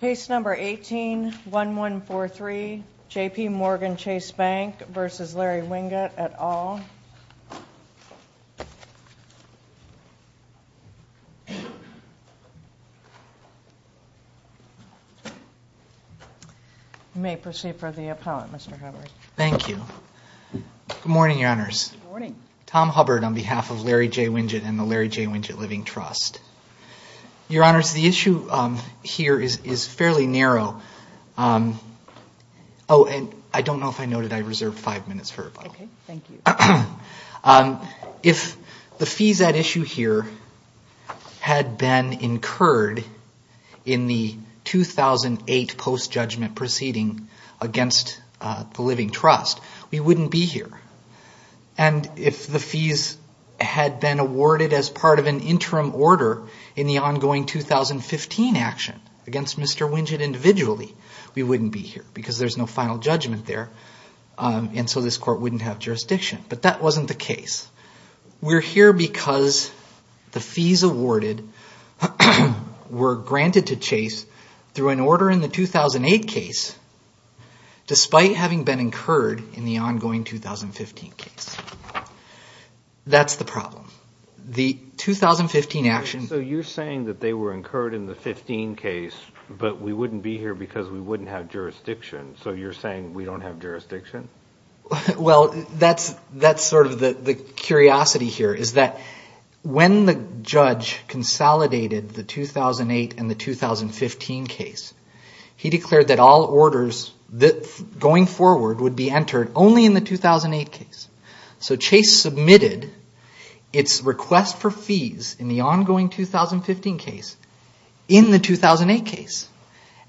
Case No. 18-1143 JPMorgan Chase Bank v. Larry Winget et al. You may proceed for the appellant, Mr. Hubbard. Thank you. Good morning, Your Honors. Good morning. Tom Hubbard on behalf of Larry J. Winget and the Larry J. Winget Living Trust. Your Honors, the issue here is fairly narrow. Oh, and I don't know if I noted I reserved five minutes for rebuttal. Okay. Thank you. If the fees at issue here had been incurred in the 2008 post-judgment proceeding against the Living Trust, we wouldn't be here. And if the fees had been awarded as part of an interim order in the ongoing 2015 action against Mr. Winget individually, we wouldn't be here because there's no final judgment there. And so this Court wouldn't have jurisdiction. But that wasn't the case. We're here because the fees awarded were granted to Chase through an order in the 2008 case despite having been incurred in the ongoing 2015 case. That's the problem. The 2015 action... So you're saying that they were incurred in the 15 case, but we wouldn't be here because we wouldn't have jurisdiction. So you're saying we don't have jurisdiction? Well, that's sort of the curiosity here is that when the judge consolidated the 2008 and the 2015 case, he declared that all orders going forward would be entered only in the 2008 case. So Chase submitted its request for fees in the ongoing 2015 case in the 2008 case.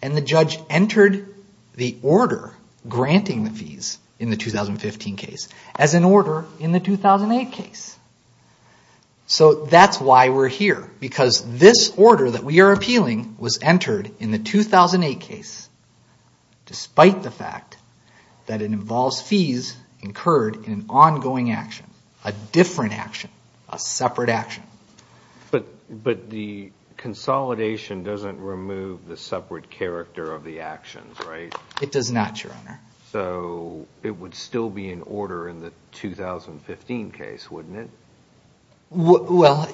And the judge entered the order granting the fees in the 2015 case as an order in the 2008 case. So that's why we're here, because this order that we are appealing was entered in the 2008 case despite the fact that it involves fees incurred in an ongoing action, a different action, a separate action. But the consolidation doesn't remove the separate character of the actions, right? It does not, Your Honor. So it would still be an order in the 2015 case, wouldn't it? Well,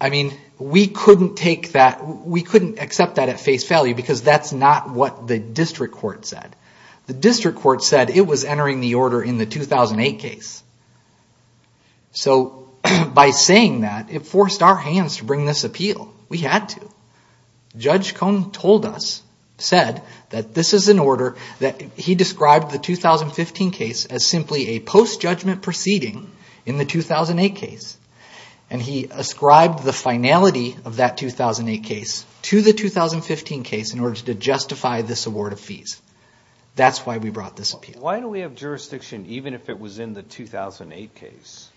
I mean, we couldn't accept that at face value because that's not what the district court said. The district court said it was entering the order in the 2008 case. So by saying that, it forced our hands to bring this appeal. We had to. Judge Cohn told us, said that this is an order that he described the 2015 case as simply a post-judgment proceeding in the 2008 case. And he ascribed the finality of that 2008 case to the 2015 case in order to justify this award of fees. That's why we brought this appeal. Why do we have jurisdiction even if it was in the 2008 case?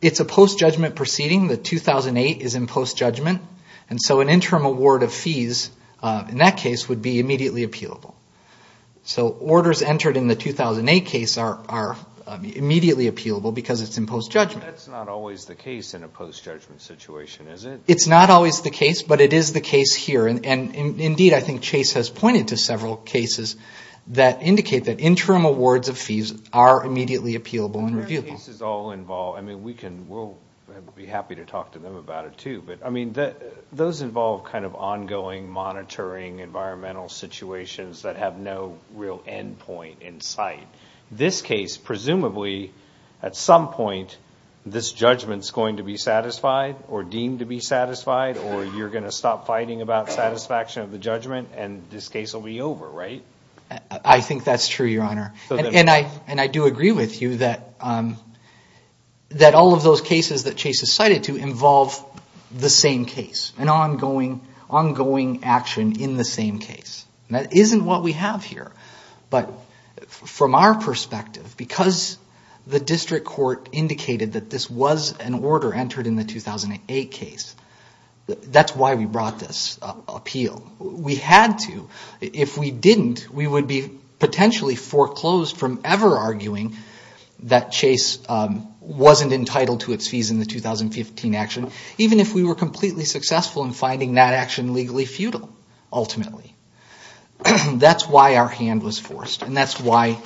It's a post-judgment proceeding. The 2008 is in post-judgment. And so an interim award of fees in that case would be immediately appealable. So orders entered in the 2008 case are immediately appealable because it's in post-judgment. That's not always the case in a post-judgment situation, is it? It's not always the case, but it is the case here. And indeed, I think Chase has pointed to several cases that indicate that interim awards of fees are immediately appealable and reviewable. I mean, we'll be happy to talk to them about it, too. But, I mean, those involve kind of ongoing monitoring environmental situations that have no real end point in sight. This case, presumably, at some point, this judgment is going to be satisfied or deemed to be satisfied, or you're going to stop fighting about satisfaction of the judgment, and this case will be over, right? I think that's true, Your Honor. And I do agree with you that all of those cases that Chase has cited to involve the same case, an ongoing action in the same case. That isn't what we have here. But from our perspective, because the district court indicated that this was an order entered in the 2008 case, that's why we brought this appeal. We had to. If we didn't, we would be potentially foreclosed from ever arguing that Chase wasn't entitled to its fees in the 2015 action, even if we were completely successful in finding that action legally futile, ultimately. That's why our hand was forced, and that's why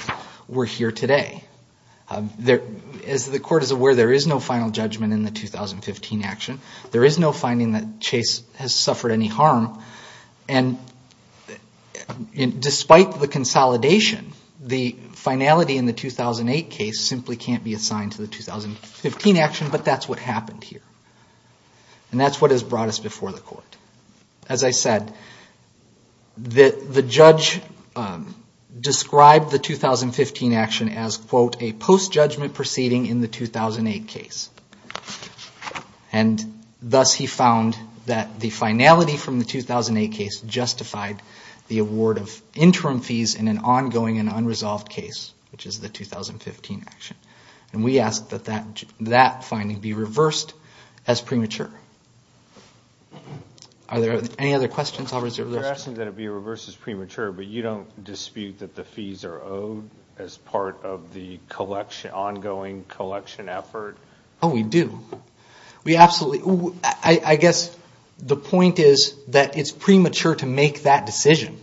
we're here today. As the Court is aware, there is no final judgment in the 2015 action. There is no finding that Chase has suffered any harm. And despite the consolidation, the finality in the 2008 case simply can't be assigned to the 2015 action, but that's what happened here. And that's what has brought us before the Court. As I said, the judge described the 2015 action as, quote, a post-judgment proceeding in the 2008 case. And thus he found that the finality from the 2008 case justified the award of interim fees in an ongoing and unresolved case, which is the 2015 action. And we ask that that finding be reversed as premature. Are there any other questions? You're asking that it be reversed as premature, but you don't dispute that the fees are owed as part of the ongoing collection effort? Oh, we do. I guess the point is that it's premature to make that decision.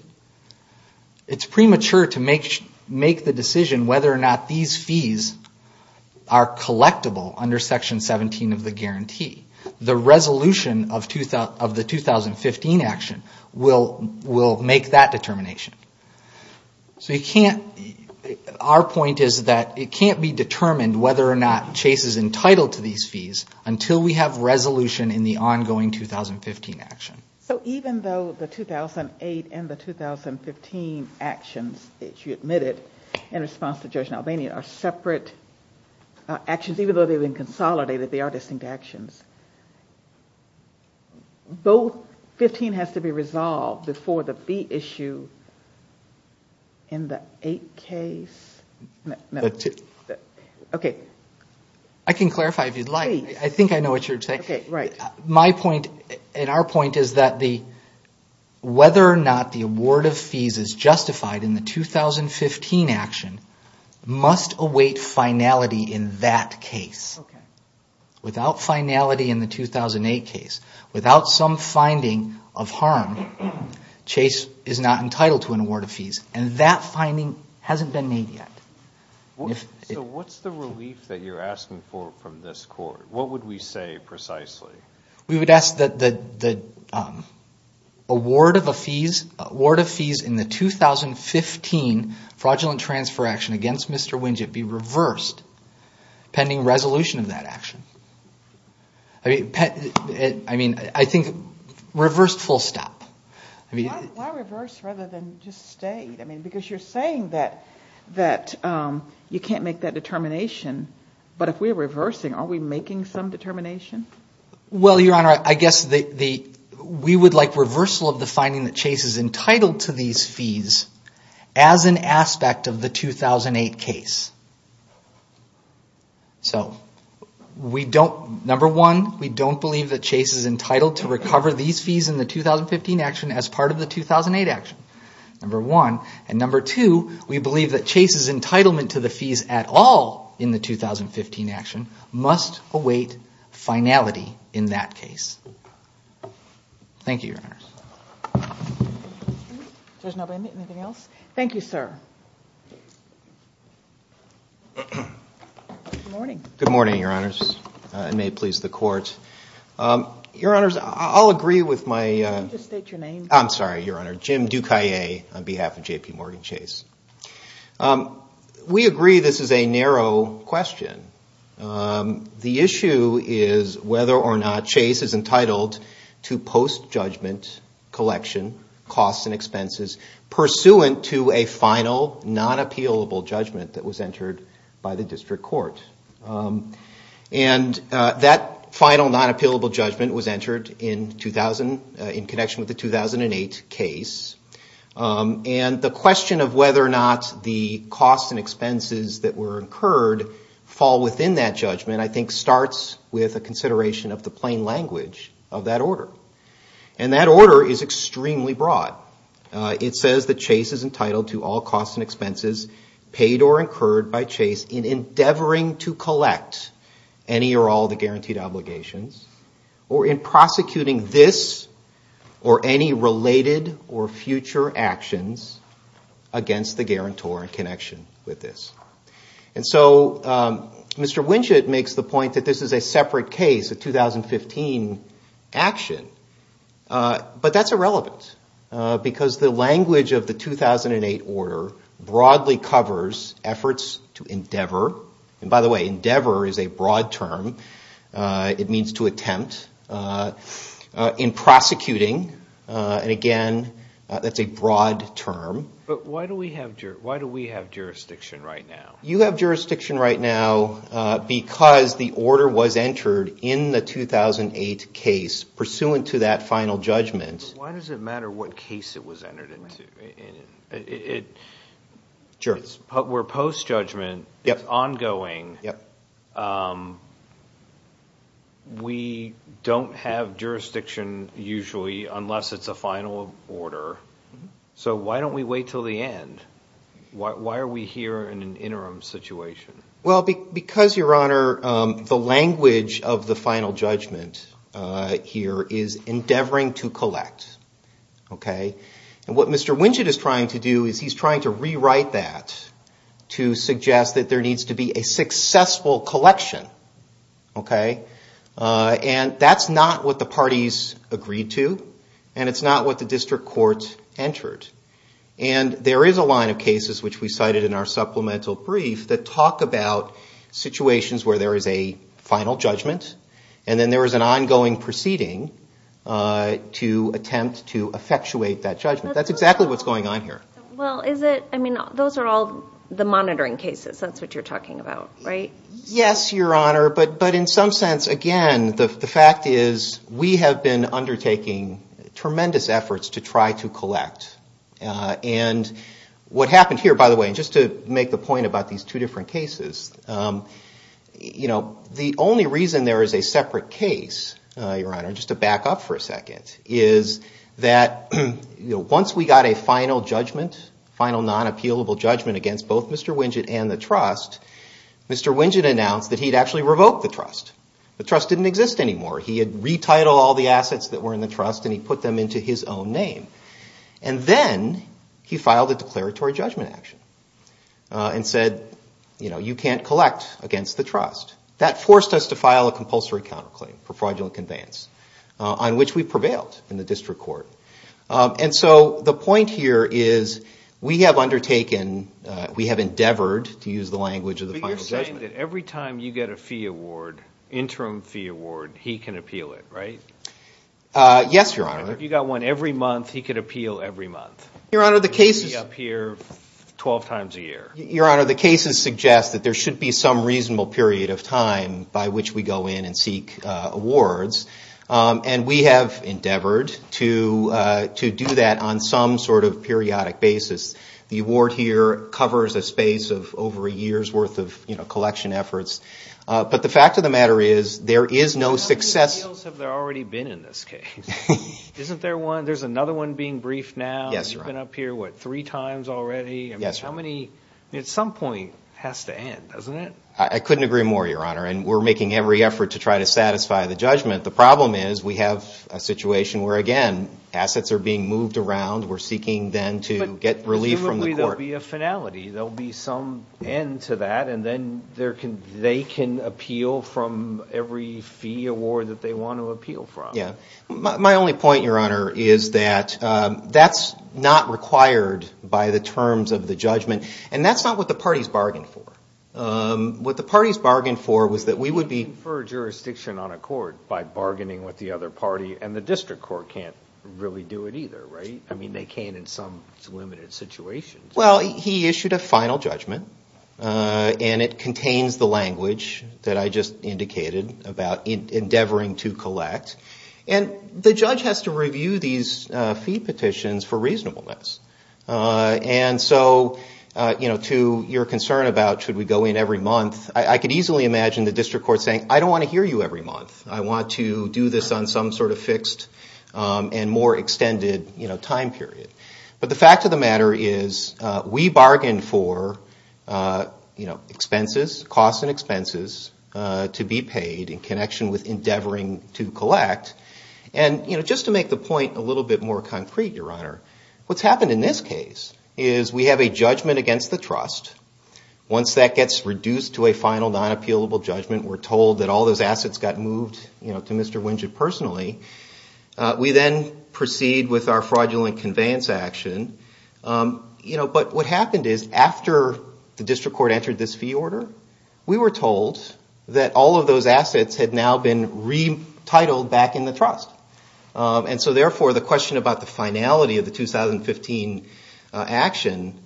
It's premature to make the decision whether or not these fees are collectible under Section 17 of the guarantee. The resolution of the 2015 action will make that determination. So you can't, our point is that it can't be determined whether or not Chase is entitled to these fees until we have resolution in the ongoing 2015 action. So even though the 2008 and the 2015 actions that you admitted in response to Judge Nalbany are separate actions, even though they've been consolidated, they are distinct actions. Both 15 has to be resolved before the fee issue in the 8 case. Okay. I can clarify if you'd like. Please. I think I know what you're saying. Okay, right. My point and our point is that whether or not the award of fees is justified in the 2015 action must await finality in that case. Okay. Without finality in the 2008 case, without some finding of harm, Chase is not entitled to an award of fees. And that finding hasn't been made yet. So what's the relief that you're asking for from this Court? What would we say precisely? We would ask that the award of fees in the 2015 fraudulent transfer action against Mr. Winget be reversed pending resolution of that action. I mean, I think reversed full stop. Why reverse rather than just stay? Because you're saying that you can't make that determination, but if we're reversing, are we making some determination? Well, Your Honor, I guess we would like reversal of the finding that Chase is entitled to these fees as an aspect of the 2008 case. So, number one, we don't believe that Chase is entitled to recover these fees in the 2015 action as part of the 2008 action. Number one. And number two, we believe that Chase's entitlement to the fees at all in the 2015 action must await finality in that case. Thank you, Your Honors. If there's nobody, anything else? Thank you, sir. Good morning. Good morning, Your Honors. It may please the Court. Your Honors, I'll agree with my... Can you just state your name? I'm sorry, Your Honor. Jim Ducayet on behalf of J.P. Morgan Chase. We agree this is a narrow question. The issue is whether or not Chase is entitled to post-judgment collection, costs and expenses, pursuant to a final non-appealable judgment that was entered by the district court. And that final non-appealable judgment was entered in connection with the 2008 case. And the question of whether or not the costs and expenses that were incurred fall within that judgment, I think starts with a consideration of the plain language of that order. And that order is extremely broad. It says that Chase is entitled to all costs and expenses paid or incurred by Chase in endeavoring to collect any or all the guaranteed obligations, or in prosecuting this or any related or future actions against the guarantor in connection with this. And so Mr. Winchett makes the point that this is a separate case, a 2015 action. But that's irrelevant because the language of the 2008 order broadly covers efforts to endeavor. And by the way, endeavor is a broad term. It means to attempt in prosecuting. And again, that's a broad term. But why do we have jurisdiction right now? You have jurisdiction right now because the order was entered in the 2008 case, pursuant to that final judgment. Why does it matter what case it was entered into? Sure. Where post-judgment is ongoing, we don't have jurisdiction usually unless it's a final order. So why don't we wait until the end? Why are we here in an interim situation? Well, because, Your Honor, the language of the final judgment here is endeavoring to collect. And what Mr. Winchett is trying to do is he's trying to rewrite that to suggest that there needs to be a successful collection. And that's not what the parties agreed to, and it's not what the district court entered. And there is a line of cases, which we cited in our supplemental brief, that talk about situations where there is a final judgment, and then there is an ongoing proceeding to attempt to effectuate that judgment. That's exactly what's going on here. Well, is it? I mean, those are all the monitoring cases. That's what you're talking about, right? Yes, Your Honor. But in some sense, again, the fact is we have been undertaking tremendous efforts to try to collect. And what happened here, by the way, and just to make the point about these two different cases, the only reason there is a separate case, Your Honor, just to back up for a second, is that once we got a final judgment, final non-appealable judgment against both Mr. Winchett and the trust, Mr. Winchett announced that he had actually revoked the trust. The trust didn't exist anymore. He had retitled all the assets that were in the trust, and he put them into his own name. And then he filed a declaratory judgment action and said, you know, you can't collect against the trust. That forced us to file a compulsory counterclaim for fraudulent conveyance, on which we prevailed in the district court. And so the point here is we have undertaken, we have endeavored, to use the language of the final judgment. But you're saying that every time you get a fee award, interim fee award, he can appeal it, right? Yes, Your Honor. If you got one every month, he could appeal every month? Your Honor, the cases – It would reappear 12 times a year. Your Honor, the cases suggest that there should be some reasonable period of time by which we go in and seek awards. And we have endeavored to do that on some sort of periodic basis. The award here covers a space of over a year's worth of collection efforts. But the fact of the matter is, there is no success – How many appeals have there already been in this case? Isn't there one? There's another one being briefed now. Yes, Your Honor. It's been up here, what, three times already? Yes, Your Honor. I mean, at some point it has to end, doesn't it? I couldn't agree more, Your Honor. And we're making every effort to try to satisfy the judgment. The problem is we have a situation where, again, assets are being moved around. We're seeking then to get relief from the court. But presumably there will be a finality. There will be some end to that, and then they can appeal from every fee award that they want to appeal from. Yes. My only point, Your Honor, is that that's not required by the terms of the judgment. And that's not what the parties bargained for. What the parties bargained for was that we would be – You can't defer jurisdiction on a court by bargaining with the other party, and the district court can't really do it either, right? I mean, they can in some limited situations. Well, he issued a final judgment, and it contains the language that I just indicated about endeavoring to collect. And the judge has to review these fee petitions for reasonableness. And so to your concern about should we go in every month, I could easily imagine the district court saying, I don't want to hear you every month. I want to do this on some sort of fixed and more extended time period. But the fact of the matter is we bargained for expenses, costs and expenses to be paid in connection with endeavoring to collect. And just to make the point a little bit more concrete, Your Honor, what's happened in this case is we have a judgment against the trust. Once that gets reduced to a final non-appealable judgment, we're told that all those assets got moved to Mr. Winget personally. We then proceed with our fraudulent conveyance action. But what happened is after the district court entered this fee order, we were told that all of those assets had now been retitled back in the trust. And so therefore the question about the finality of the 2015 action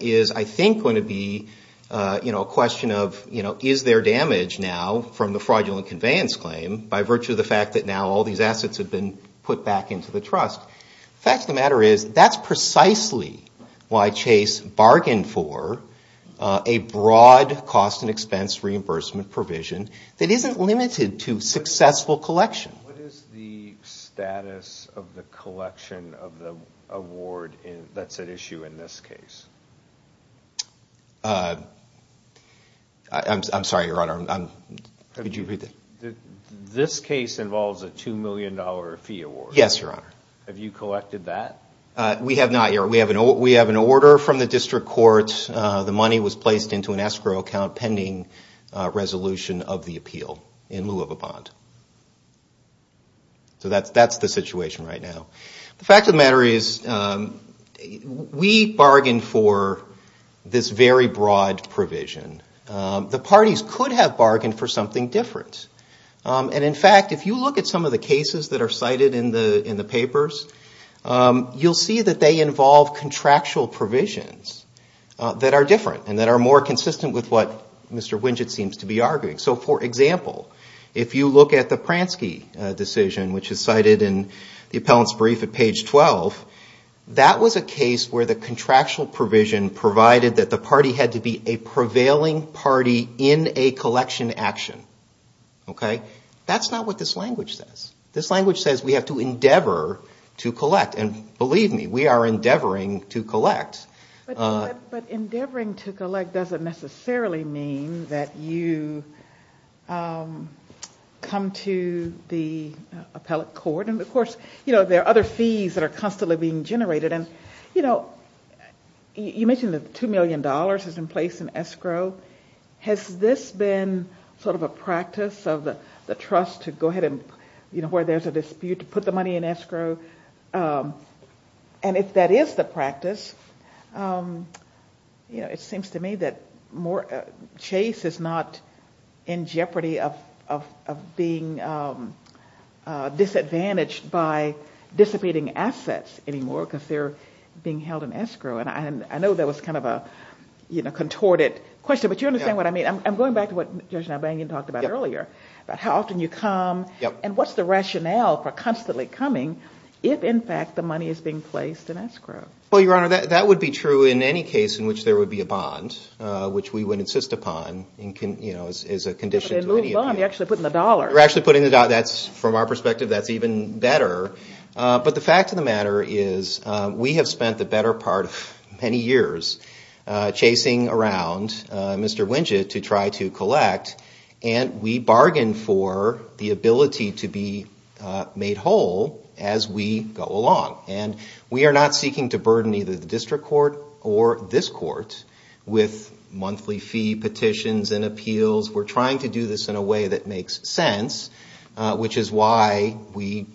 is, I think, going to be a question of is there damage now from the fraudulent conveyance claim by virtue of the fact that now all these assets have been put back into the trust. The fact of the matter is that's precisely why Chase bargained for a broad cost and expense reimbursement provision that isn't limited to successful collection. What is the status of the collection of the award that's at issue in this case? I'm sorry, Your Honor. This case involves a $2 million fee award. Yes, Your Honor. Have you collected that? We have not, Your Honor. We have an order from the district court. The money was placed into an escrow account pending resolution of the appeal in lieu of a bond. So that's the situation right now. The fact of the matter is we bargained for this very broad provision. The parties could have bargained for something different. And in fact, if you look at some of the cases that are cited in the papers, you'll see that they involve contractual provisions that are different and that are more consistent with what Mr. Winget seems to be arguing. So, for example, if you look at the Pransky decision, which is cited in the appellant's brief at page 12, that was a case where the contractual provision provided that the party had to be a prevailing party in a collection action. That's not what this language says. This language says we have to endeavor to collect. And believe me, we are endeavoring to collect. But endeavoring to collect doesn't necessarily mean that you come to the appellate court. And, of course, there are other fees that are constantly being generated. And you mentioned that $2 million is in place in escrow. Has this been sort of a practice of the trust to go ahead and, you know, where there's a dispute to put the money in escrow? And if that is the practice, you know, it seems to me that Chase is not in jeopardy of being disadvantaged by dissipating assets anymore because they're being held in escrow. And I know that was kind of a, you know, contorted question. But you understand what I mean? I'm going back to what Judge Nalbanian talked about earlier about how often you come. And what's the rationale for constantly coming if, in fact, the money is being placed in escrow? Well, Your Honor, that would be true in any case in which there would be a bond, which we would insist upon, you know, as a condition to any appeal. But they moved on. They're actually putting the dollar. They're actually putting the dollar. From our perspective, that's even better. But the fact of the matter is we have spent the better part of many years chasing around Mr. Wynja to try to collect. And we bargained for the ability to be made whole as we go along. And we are not seeking to burden either the district court or this court with monthly fee petitions and appeals. We're trying to do this in a way that makes sense, which is why we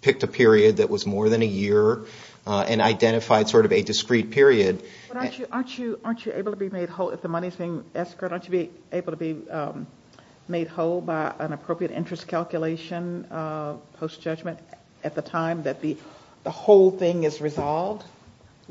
picked a period that was more than a year and identified sort of a discrete period. But aren't you able to be made whole if the money is being escrowed? Aren't you able to be made whole by an appropriate interest calculation post-judgment at the time that the whole thing is resolved?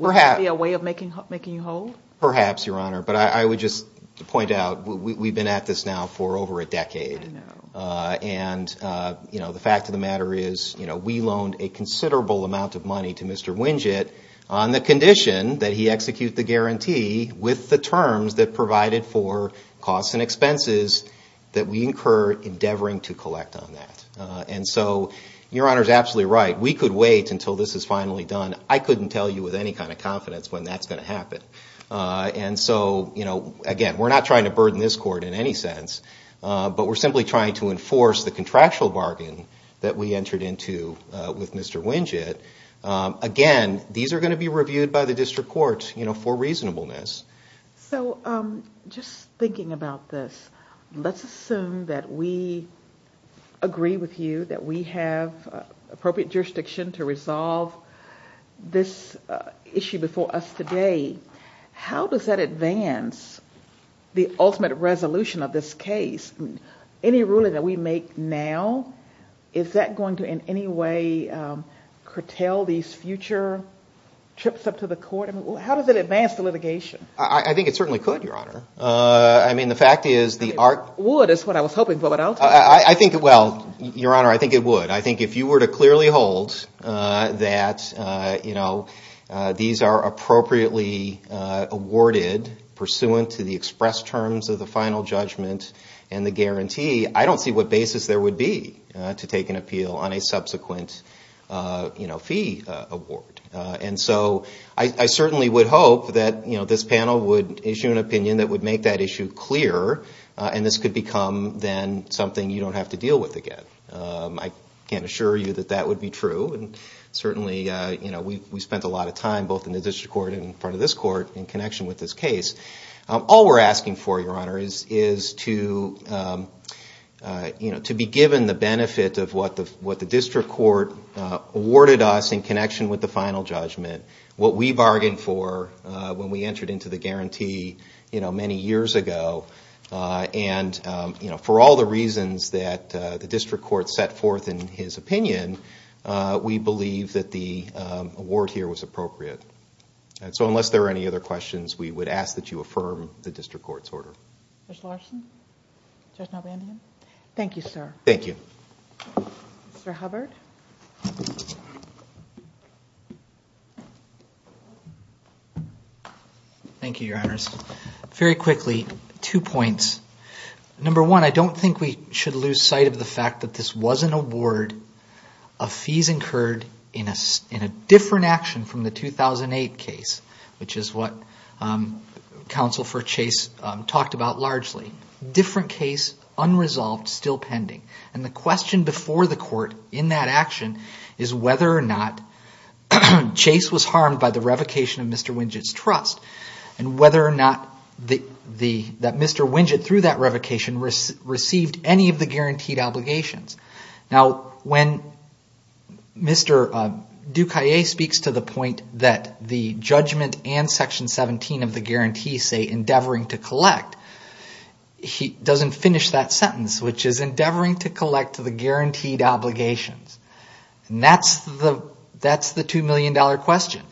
Perhaps. Would that be a way of making you whole? Perhaps, Your Honor. But I would just point out we've been at this now for over a decade. I know. And the fact of the matter is we loaned a considerable amount of money to Mr. Wynja on the condition that he execute the guarantee with the terms that provided for costs and expenses that we incurred endeavoring to collect on that. And so Your Honor is absolutely right. We could wait until this is finally done. I couldn't tell you with any kind of confidence when that's going to happen. And so, again, we're not trying to burden this court in any sense. But we're simply trying to enforce the contractual bargain that we entered into with Mr. Wynja. Again, these are going to be reviewed by the district court for reasonableness. So just thinking about this, let's assume that we agree with you that we have appropriate jurisdiction to resolve this issue before us today. How does that advance the ultimate resolution of this case? Any ruling that we make now, is that going to in any way curtail these future trips up to the court? I mean, how does it advance the litigation? I think it certainly could, Your Honor. I mean, the fact is the art – It would is what I was hoping for, but I'll take it. I think it will, Your Honor. I think it would. I think if you were to clearly hold that these are appropriately awarded pursuant to the express terms of the final judgment and the guarantee, I don't see what basis there would be to take an appeal on a subsequent fee award. And so I certainly would hope that this panel would issue an opinion that would make that issue clear, and this could become then something you don't have to deal with again. I can't assure you that that would be true, and certainly we spent a lot of time both in the district court and in front of this court in connection with this case. All we're asking for, Your Honor, is to be given the benefit of what the district court awarded us in connection with the final judgment, what we bargained for when we entered into the guarantee many years ago, and for all the reasons that the district court set forth in his opinion, we believe that the award here was appropriate. So unless there are any other questions, we would ask that you affirm the district court's order. Judge Larson? Judge Melbandian? Thank you, sir. Thank you. Mr. Hubbard? Thank you, Your Honors. Very quickly, two points. Number one, I don't think we should lose sight of the fact that this was an award of fees incurred in a different action from the 2008 case, which is what Counsel for Chase talked about largely. Different case, unresolved, still pending. And the question before the court in that action is whether or not Chase was harmed by the revocation of Mr. Wingett's trust and whether or not Mr. Wingett, through that revocation, received any of the guaranteed obligations. Now, when Mr. Ducayet speaks to the point that the judgment and Section 17 of the guarantee say endeavoring to collect, he doesn't finish that sentence, which is endeavoring to collect the guaranteed obligations. And that's the $2 million question.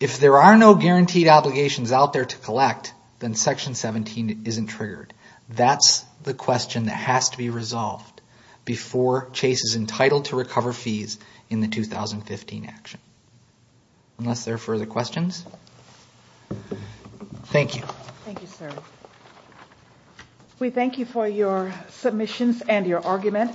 If there are no guaranteed obligations out there to collect, then Section 17 isn't triggered. That's the question that has to be resolved before Chase is entitled to recover fees in the 2015 action. Unless there are further questions? Thank you. Thank you, sir. We thank you for your submissions and your argument.